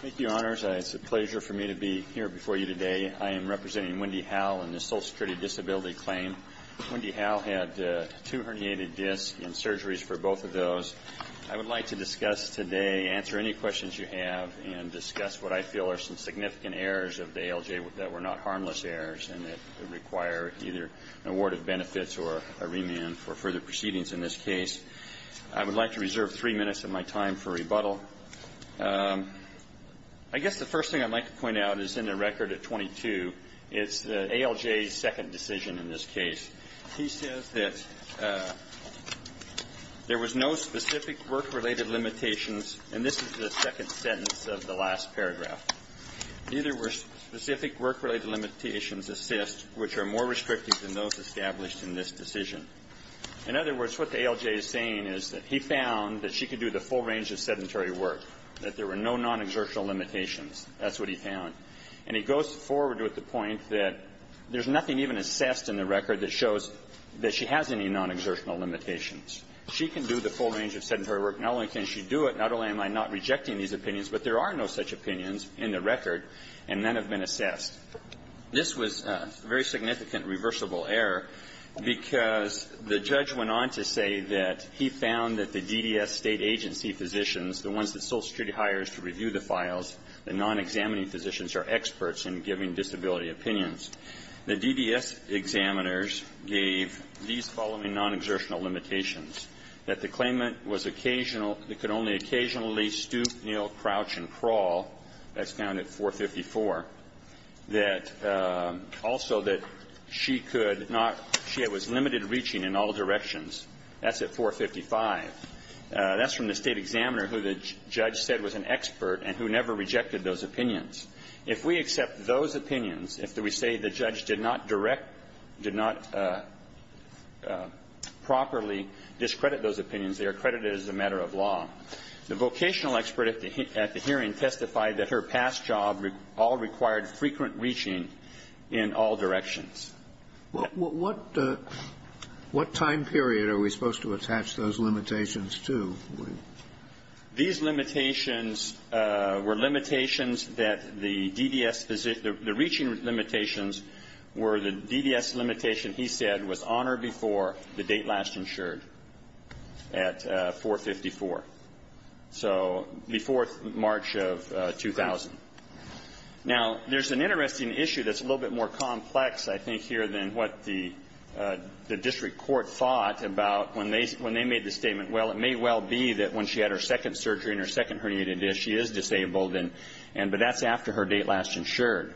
Thank you, Honors. It's a pleasure for me to be here before you today. I am representing Wendy Howell in the Social Security Disability Claim. Wendy Howell had two herniated discs and surgeries for both of those. I would like to discuss today, answer any questions you have, and discuss what I feel are some significant errors of the ALJ that were not harmless errors and that require either an award of benefits or a remand for further proceedings in this rebuttal. I guess the first thing I'd like to point out is in the record at 22, it's the ALJ's second decision in this case. He says that there was no specific work-related limitations, and this is the second sentence of the last paragraph. Neither were specific work-related limitations assessed, which are more restrictive than those established in this decision. In other words, what the ALJ is saying is that he found that she could do the full range of sedentary work, that there were no non-exertional limitations. That's what he found. And he goes forward with the point that there's nothing even assessed in the record that shows that she has any non-exertional limitations. She can do the full range of sedentary work. Not only can she do it, not only am I not rejecting these opinions, but there are no such opinions in the record, and none have been assessed. This was a very significant reversible error, because the judge went on to say that he found that the DDS State agency physicians, the ones that Social Security hires to review the files, the non-examining physicians are experts in giving disability opinions. The DDS examiners gave these following non-exertional limitations, that the claimant was occasional they could only occasionally stoop, kneel, crouch and crawl, that's found at 454, that also that she could not see it was limited reaching in all directions. That's at 455. That's from the State examiner who the judge said was an expert and who never rejected those opinions. If we accept those opinions, if we say the judge did not direct, did not properly discredit those opinions, they are credited as a matter of law. The vocational expert at the hearing testified that her past job all required frequent reaching in all directions. Well, what time period are we supposed to attach those limitations to? These limitations were limitations that the DDS physician the reaching limitations were the DDS limitation he said was on or before the date last insured at 454. So before March of 2000. Now, there's an interesting issue that's a little bit more complex, I think, here than what the district court thought about when they made the statement, well, it may well be that when she had her second surgery and her second herniated disc, she is disabled, but that's after her date last insured.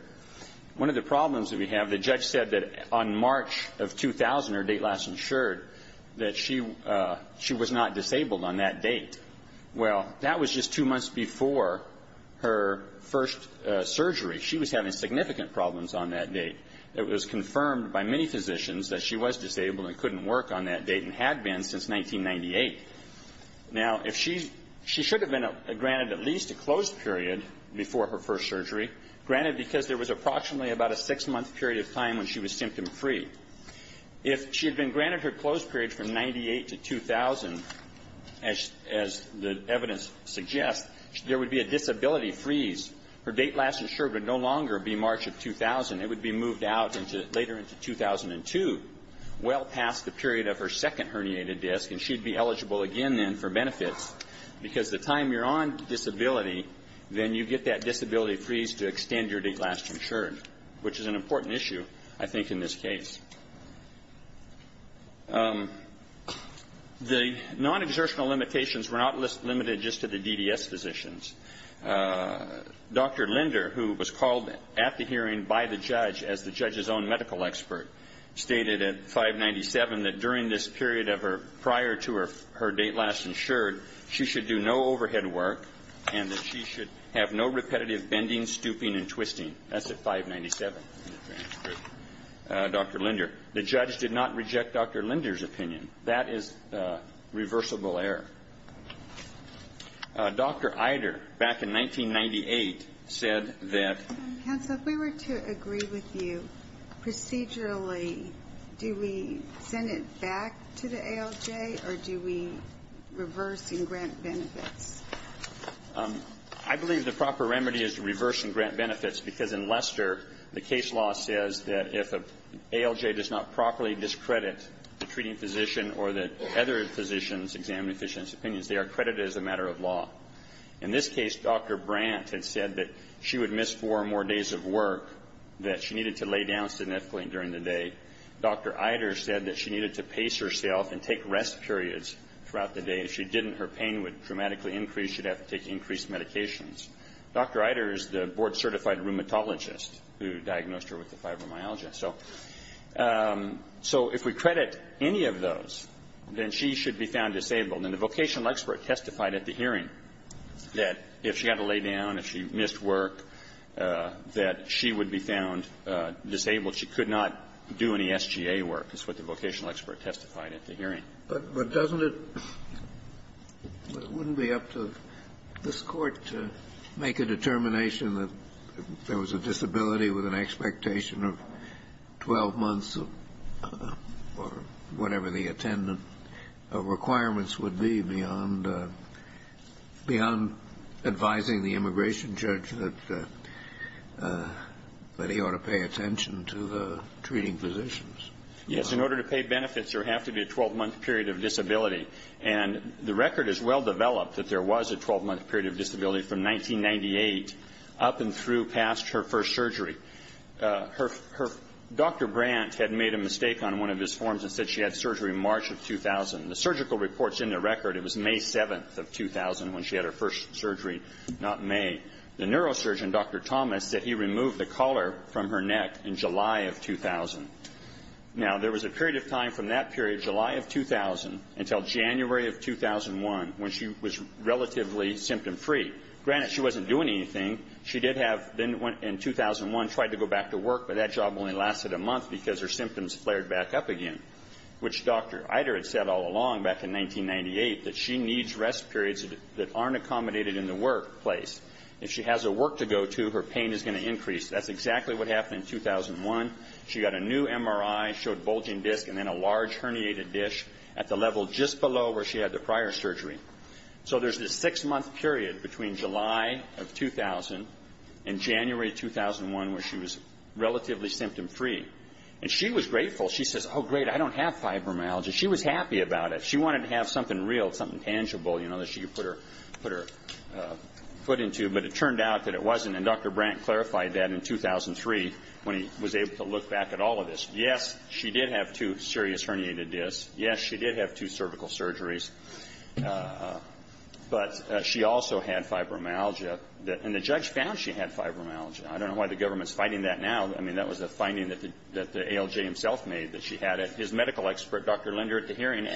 One of the problems that we have, the judge said that on March of 2000, her date last insured, that she was not disabled on that date. Well, that was just two months before her first surgery. She was having significant problems on that date. It was confirmed by many physicians that she was disabled and couldn't work on that date and had been since 1998. Now, if she's she should have been granted at least a closed period before her first surgery, granted because there was approximately about a six-month period of time when she was symptom-free. If she had been granted her closed period from 1998 to 2000, as the evidence suggests, there would be a disability freeze. Her date last insured would no longer be March of 2000. It would be moved out into later into 2002, well past the period of her second herniated disc, and she'd be eligible again then for benefits. Because the time you're on disability, then you get that disability freeze to extend your date last insured, which is an important issue, I think, in this case. The non-exertional limitations were not limited just to the DDS physicians. Dr. Linder, who was called at the hearing by the judge as the judge's own medical expert, stated at 597 that during this period of her prior to her date last insured, she should do no overhead work and that she should have no repetitive bending, stooping, and twisting. That's at 597 in the transcript. Dr. Linder. The judge did not reject Dr. Linder's opinion. That is reversible error. Dr. Ider, back in 1998, said that Dr. Ider. Dr. Ider. Counsel, if we were to agree with you, procedurally, do we send it back to ALJ or do we reverse and grant benefits? Dr. Linder. I believe the proper remedy is to reverse and grant benefits because in Leicester, the case law says that if an ALJ does not properly discredit the treating physician or that other physicians examine a physician's opinions, they are credited as a matter of law. In this case, Dr. Brandt had said that she would miss four or more days of work, that she needed to lay down significantly during the day. Dr. Ider said that she needed to pace herself and take rest periods throughout the day. If she didn't, her pain would dramatically increase. She'd have to take increased medications. Dr. Ider is the board-certified rheumatologist who diagnosed her with the fibromyalgia. So if we credit any of those, then she should be found disabled. And the vocational expert testified at the hearing that if she had to lay down, if she missed work, that she would be found disabled. She could not do any SGA work, is what the vocational expert testified at the hearing. Kennedy. But doesn't it – wouldn't it be up to this Court to make a determination that if there was a disability with an expectation of 12 months or whatever the attendant requirements would be beyond advising the immigration judge that he ought to pay attention to the treating physicians? Yes. In order to pay benefits, there would have to be a 12-month period of disability. And the record is well-developed that there was a 12-month period of disability from 1998 up and through past her first surgery. Dr. Brandt had made a mistake on one of his forms and said she had surgery in March of 2000. The surgical reports in the record, it was May 7th of 2000 when she had her first surgery, not May. The neurosurgeon, Dr. Thomas, said he removed the collar from her neck in July of 2000. Now, there was a period of time from that period, July of 2000, until January of 2001, when she was relatively symptom-free. Granted, she wasn't doing anything. She did have – in 2001, tried to go back to work, but that job only lasted a month because her symptoms flared back up again. Which Dr. Eider had said all along back in 1998 that she needs rest periods that aren't accommodated in the workplace. If she has a work to go to, her pain is going to increase. That's exactly what happened in 2001. She got a new MRI, showed bulging disc, and then a large herniated disc at the level just below where she had the prior surgery. So there's this six-month period between July of 2000 and January 2001 where she was relatively symptom-free. And she was grateful. She says, oh, great, I don't have fibromyalgia. She was happy about it. She wanted to have something real, something tangible, you know, that she could put her foot into, but it turned out that it wasn't. And Dr. Brandt clarified that in 2003, when he was able to look back at all of this. Yes, she did have two serious herniated discs. Yes, she did have two cervical surgeries. But she also had fibromyalgia. And the judge found she had fibromyalgia. I don't know why the government's fighting that now. I mean, that was a finding that the ALJ himself made, that she had it. His medical expert, Dr. Linder, at the hearing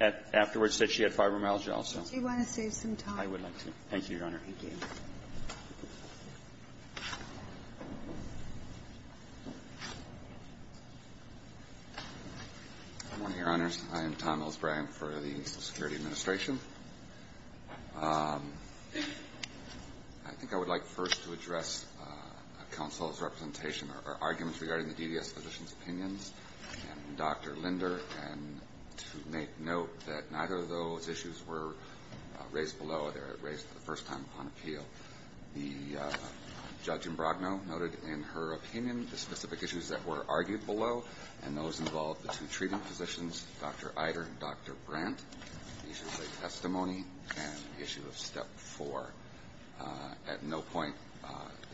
afterwards said she had fibromyalgia also. Ginsburg. Do you want to save some time? I would like to. Thank you, Your Honor. Thank you. Good morning, Your Honors. I am Tom Mills-Bragg for the Social Security Administration. I think I would like first to address counsel's representation, or arguments regarding the DDS physician's opinions, and Dr. Linder, and to make note that neither of those issues were raised below. They were raised for the first time on appeal. The Judge Imbrogno noted in her opinion the specific issues that were argued below, and those involved the two treating physicians, Dr. Ider and Dr. Brandt. These are the testimony and issue of Step 4. At no point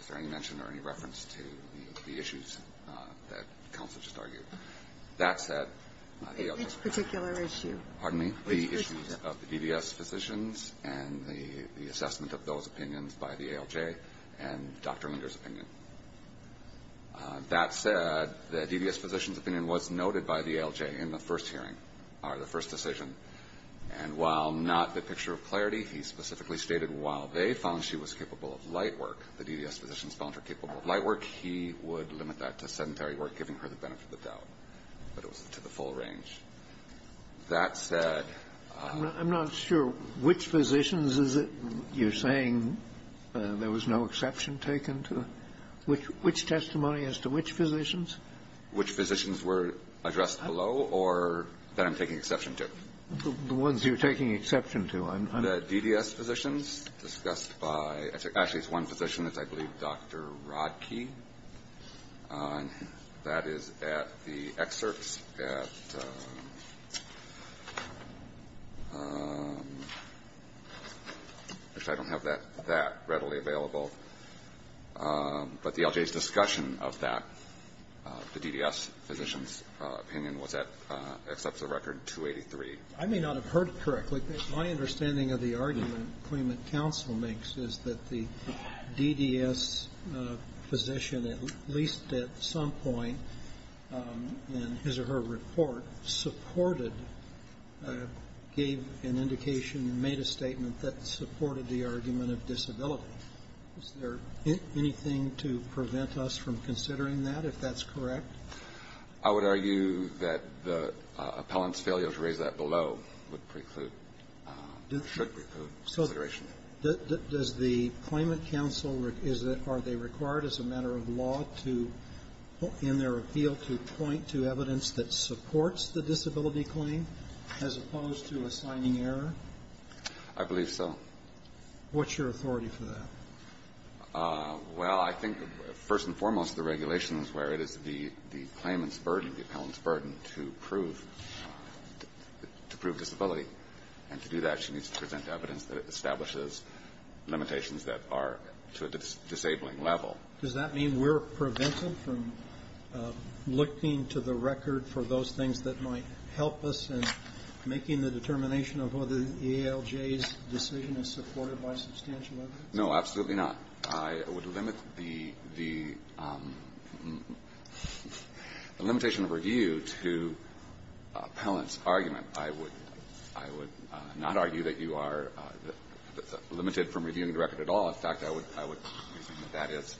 is there any mention or any reference to the issues that counsel just argued. That said, the ALJ ---- Which particular issue? Pardon me? The issues of the DDS physicians and the assessment of those opinions by the ALJ and Dr. Linder's opinion. That said, the DDS physician's opinion was noted by the ALJ in the first hearing, or the first decision. And while not the picture of clarity, he specifically stated while they found she was capable of light work, the DDS physician's found her capable of light work, he would limit that to sedentary work, giving her the time for the doubt. But it was to the full range. That said ---- I'm not sure which physicians is it you're saying there was no exception taken to? Which testimony as to which physicians? Which physicians were addressed below or that I'm taking exception to? The ones you're taking exception to. The DDS physicians discussed by ---- Actually, it's one physician that's, I believe, Dr. Rodkey. That is at the excerpts at ---- which I don't have that readily available. But the ALJ's discussion of that, the DDS physician's opinion, was at exception record 283. I may not have heard it correctly. My understanding of the argument the Claimant Counsel makes is that the DDS physician, at least at some point in his or her report, supported, gave an indication, made a statement that supported the argument of disability. Is there anything to prevent us from considering that, if that's correct? I would argue that the appellant's failure to raise that below would preclude, should preclude consideration. So does the Claimant Counsel, is it, are they required as a matter of law to, in their appeal, to point to evidence that supports the disability claim as opposed to assigning error? I believe so. What's your authority for that? Well, I think, first and foremost, the regulation is where it is the claimant's to prove disability. And to do that, she needs to present evidence that it establishes limitations that are to a disabling level. Does that mean we're prevented from looking to the record for those things that might help us in making the determination of whether the ALJ's decision is supported by substantial evidence? No, absolutely not. I would limit the, the limitation of review to appellant's argument. I would, I would not argue that you are limited from reviewing the record at all. In fact, I would, I would think that that is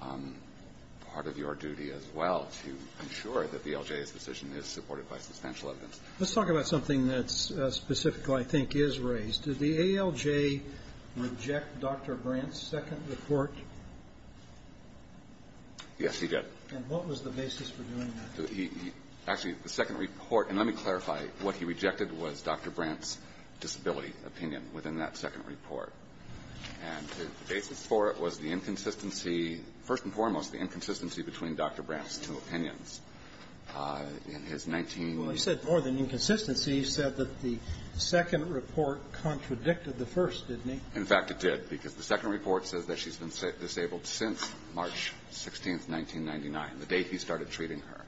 part of your duty as well, to ensure that the ALJ's decision is supported by substantial evidence. Let's talk about something that's specifically, I think, is raised. Did the ALJ reject Dr. Brandt's second report? Yes, he did. And what was the basis for doing that? He, he, actually, the second report, and let me clarify, what he rejected was Dr. Brandt's disability opinion within that second report. And the basis for it was the inconsistency, first and foremost, the inconsistency between Dr. Brandt's two opinions. In his 19- Well, he said more than inconsistency. He said that the second report contradicted the first, didn't he? In fact, it did, because the second report says that she's been disabled since March 16th, 1999, the day he started treating her.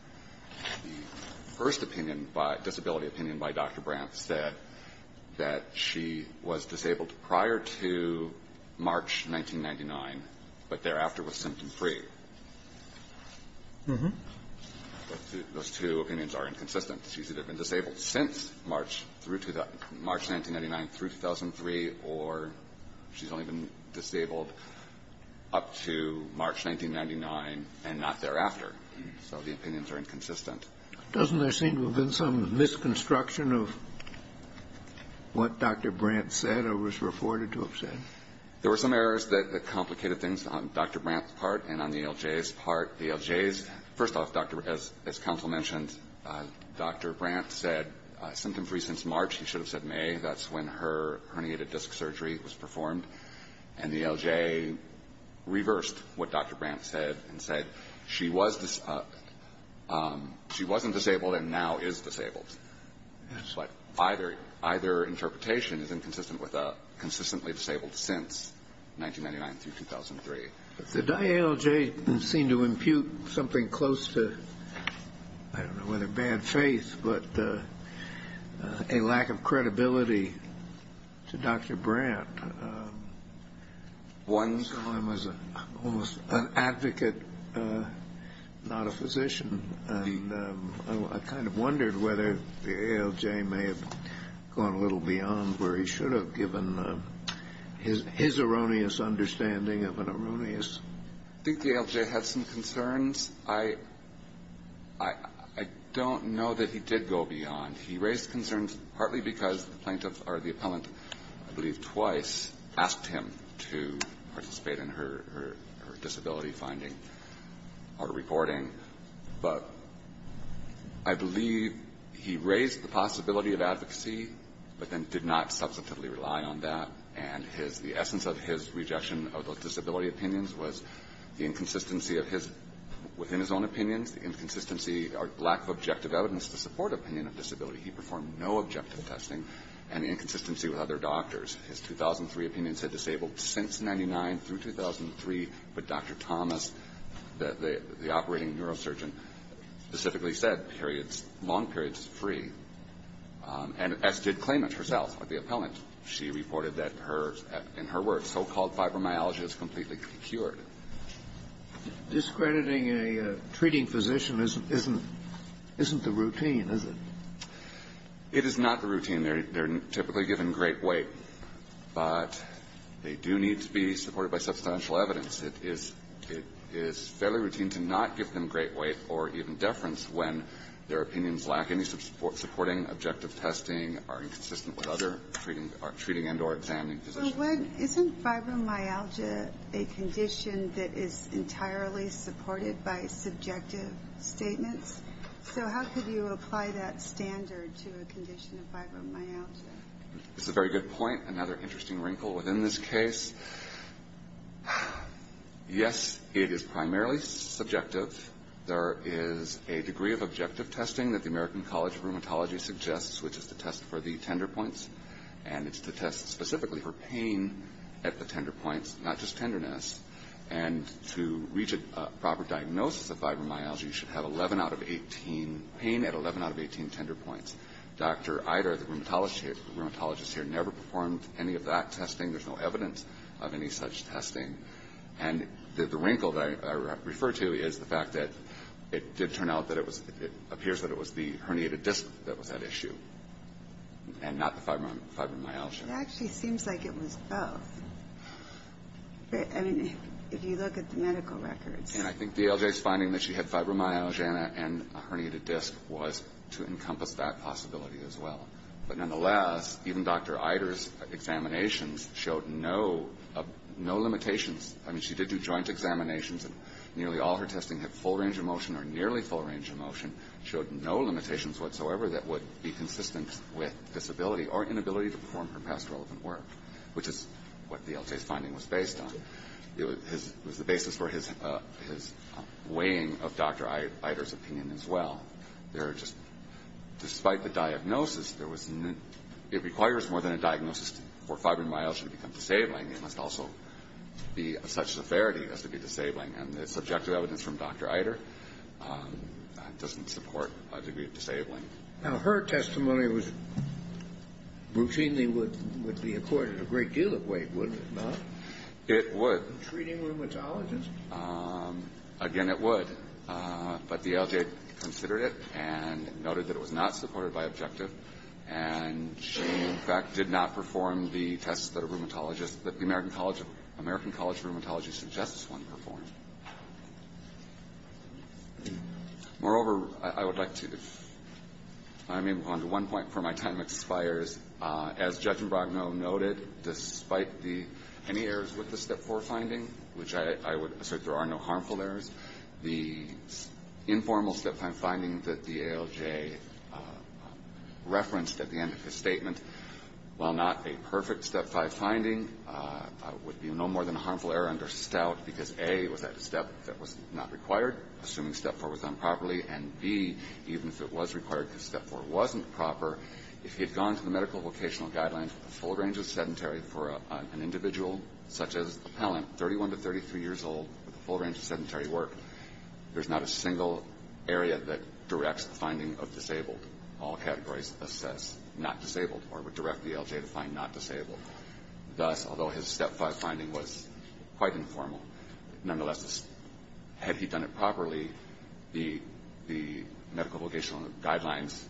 The first opinion by, disability opinion by Dr. Brandt said that she was disabled prior to March 1999, but thereafter was symptom-free. Those two opinions are inconsistent. She's either been disabled since March through to the March 1999 through 2003, or she's only been disabled up to March 1999 and not thereafter. So the opinions are inconsistent. Doesn't there seem to have been some misconstruction of what Dr. Brandt said or was reported to have said? There were some errors that complicated things on Dr. Brandt's part and on the LJ's part. The LJ's, first off, as counsel mentioned, Dr. Brandt said symptom-free since March. He should have said May. That's when her herniated disc surgery was performed. And the LJ reversed what Dr. Brandt said and said she wasn't disabled and now is disabled. So either interpretation is inconsistent with consistently disabled since 1999 through 2003. Did I, LJ, seem to impute something close to, I don't know whether bad faith, but a lack of credibility to Dr. Brandt? I saw him as almost an advocate, not a physician. And I kind of wondered whether the LJ may have gone a little beyond where he should have given his erroneous understanding of an erroneous. I think the LJ had some concerns. I don't know that he did go beyond. He raised concerns partly because the plaintiff or the appellant, I believe twice, asked him to participate in her disability finding or reporting. But I believe he raised the possibility of advocacy but then did not substantively rely on that. And the essence of his rejection of those disability opinions was the inconsistency of his, within his own opinions, the inconsistency or lack of objective evidence to support opinion of disability. He performed no objective testing. And the inconsistency with other doctors. His 2003 opinions had disabled since 1999 through 2003. But Dr. Thomas, the operating neurosurgeon, specifically said periods, long periods are free. And S did claim it herself with the appellant. She reported that her, in her words, so-called fibromyalgia is completely cured. Discrediting a treating physician isn't the routine, is it? It is not the routine. They're typically given great weight. But they do need to be supported by substantial evidence. It is fairly routine to not give them great weight or even deference when their opinions lack any supporting objective testing, are inconsistent with other treating and or examining physicians. Well, isn't fibromyalgia a condition that is entirely supported by subjective statements? So how could you apply that standard to a condition of fibromyalgia? It's a very good point. Another interesting wrinkle within this case. Yes, it is primarily subjective. There is a degree of objective testing that the American College of Rheumatology suggests, which is to test for the tender points. And it's to test specifically for pain at the tender points, not just tenderness. And to reach a proper diagnosis of fibromyalgia, you should have 11 out of 18, pain at 11 out of 18 tender points. Dr. Idar, the rheumatologist here, never performed any of that testing. There's no evidence of any such testing. And the wrinkle that I refer to is the fact that it did turn out that it was the herniated disc that was at issue, and not the fibromyalgia. It actually seems like it was both. I mean, if you look at the medical records. And I think DLJ's finding that she had fibromyalgia and a herniated disc was to encompass that possibility as well. But nonetheless, even Dr. Idar's examinations showed no limitations. I mean, she did do joint examinations, and nearly all her testing had full range of motion or nearly full range of motion, showed no limitations whatsoever that would be consistent with disability or inability to perform her past relevant work, which is what DLJ's finding was based on. It was the basis for his weighing of Dr. Idar's opinion as well. Despite the diagnosis, it requires more than a diagnosis for fibromyalgia to become disabling. It must also be of such severity as to be disabling. And the subjective evidence from Dr. Idar doesn't support a degree of disabling. Now, her testimony was routinely would be accorded a great deal of weight, would it not? It would. In treating rheumatologists? Again, it would. But DLJ considered it and noted that it was not supported by objective. And she, in fact, did not perform the tests that a rheumatologist, that the American College of Rheumatology suggests one perform. Moreover, I would like to, if I may move on to one point before my time expires. As Judge Imbrogno noted, despite the, any errors with the Step 4 finding, which I would assert there are no harmful errors, the informal Step 5 finding that DLJ referenced at the end of his statement, while not a perfect Step 5 finding, would be no more than a harmful error under stout because, A, was that a step that was not required, assuming Step 4 was done properly, and, B, even if it was required because Step 4 wasn't proper, if he had gone to the medical vocational guidelines with a full range of sedentary for an individual such as the appellant, 31 to 33 years old, with a full range of sedentary work, there's not a single area that directs the finding of disabled. All categories assess not disabled or would direct DLJ to find not disabled. Thus, although his Step 5 finding was quite informal, nonetheless, had he done it properly, the medical vocational guidelines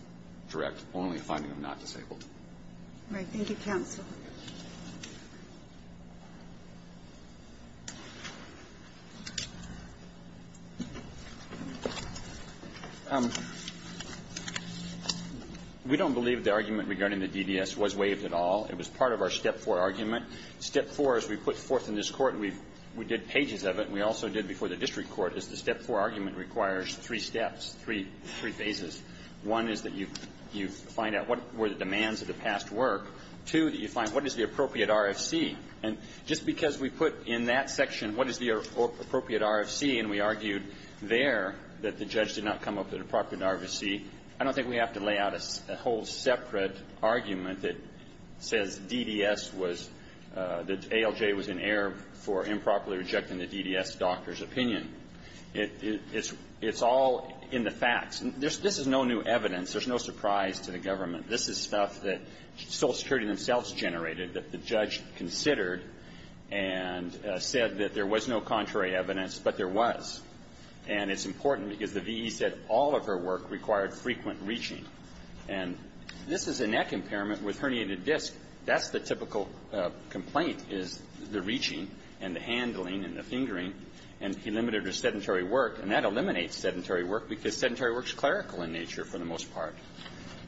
direct only a finding of not disabled. All right. Thank you, counsel. We don't believe the argument regarding the DDS was waived at all. It was part of our Step 4 argument. Step 4, as we put forth in this Court, we did pages of it, and we also did before the district court, is the Step 4 argument requires three steps, three phases. One is that you find out what were the demands of the past work. Two, that you find what is the appropriate RFC. And just because we put in that section what is the appropriate RFC, and we argued there that the judge did not come up with the appropriate RFC, I don't think we have to lay out a whole separate argument that says DDS was the ALJ was in error for improperly rejecting the DDS doctor's opinion. It's all in the facts. This is no new evidence. There's no surprise to the government. This is stuff that Social Security themselves generated, that the judge considered and said that there was no contrary evidence, but there was. And it's important because the V.E. said all of her work required frequent reaching. And this is a neck impairment with herniated disc. That's the typical complaint, is the reaching and the handling and the fingering. And he limited her sedentary work. And that eliminates sedentary work because sedentary work is clerical in nature for the most part.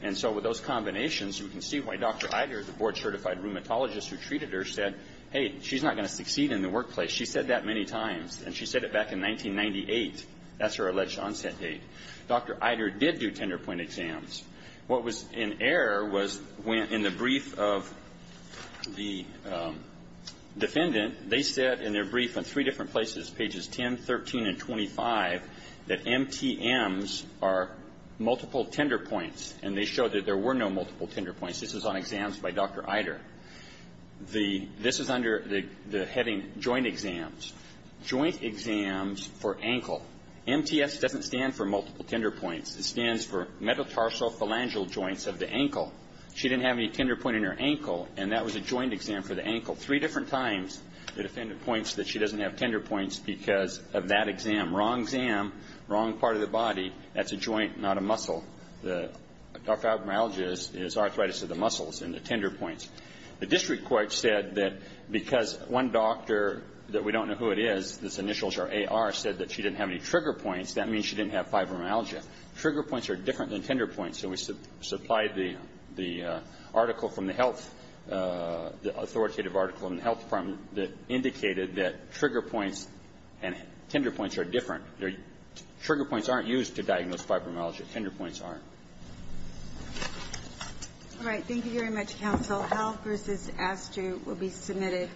And so with those combinations, you can see why Dr. Eider, the board-certified rheumatologist who treated her, said, hey, she's not going to succeed in the workplace. She said that many times. And she said it back in 1998. That's her alleged onset date. Dr. Eider did do tender point exams. What was in error was when in the brief of the defendant, they said in their brief in three different places, pages 10, 13, and 25, that MTMs are multiple tender points. And they showed that there were no multiple tender points. This is on exams by Dr. Eider. This is under the heading joint exams. Joint exams for ankle. MTS doesn't stand for multiple tender points. It stands for metatarsophalangeal joints of the ankle. She didn't have any tender point in her ankle. And that was a joint exam for the ankle. Three different times the defendant points that she doesn't have tender points because of that exam. Wrong exam, wrong part of the body. That's a joint, not a muscle. Fibromyalgia is arthritis of the muscles and the tender points. The district court said that because one doctor that we don't know who it is, this initials are AR, said that she didn't have any trigger points, that means she didn't have fibromyalgia. Trigger points are different than tender points. So we supplied the article from the health, the authoritative article in the health department that indicated that trigger points and tender points are different. Trigger points aren't used to diagnose fibromyalgia. Tender points aren't. All right. Thank you very much, counsel. Health versus ASTU will be submitted.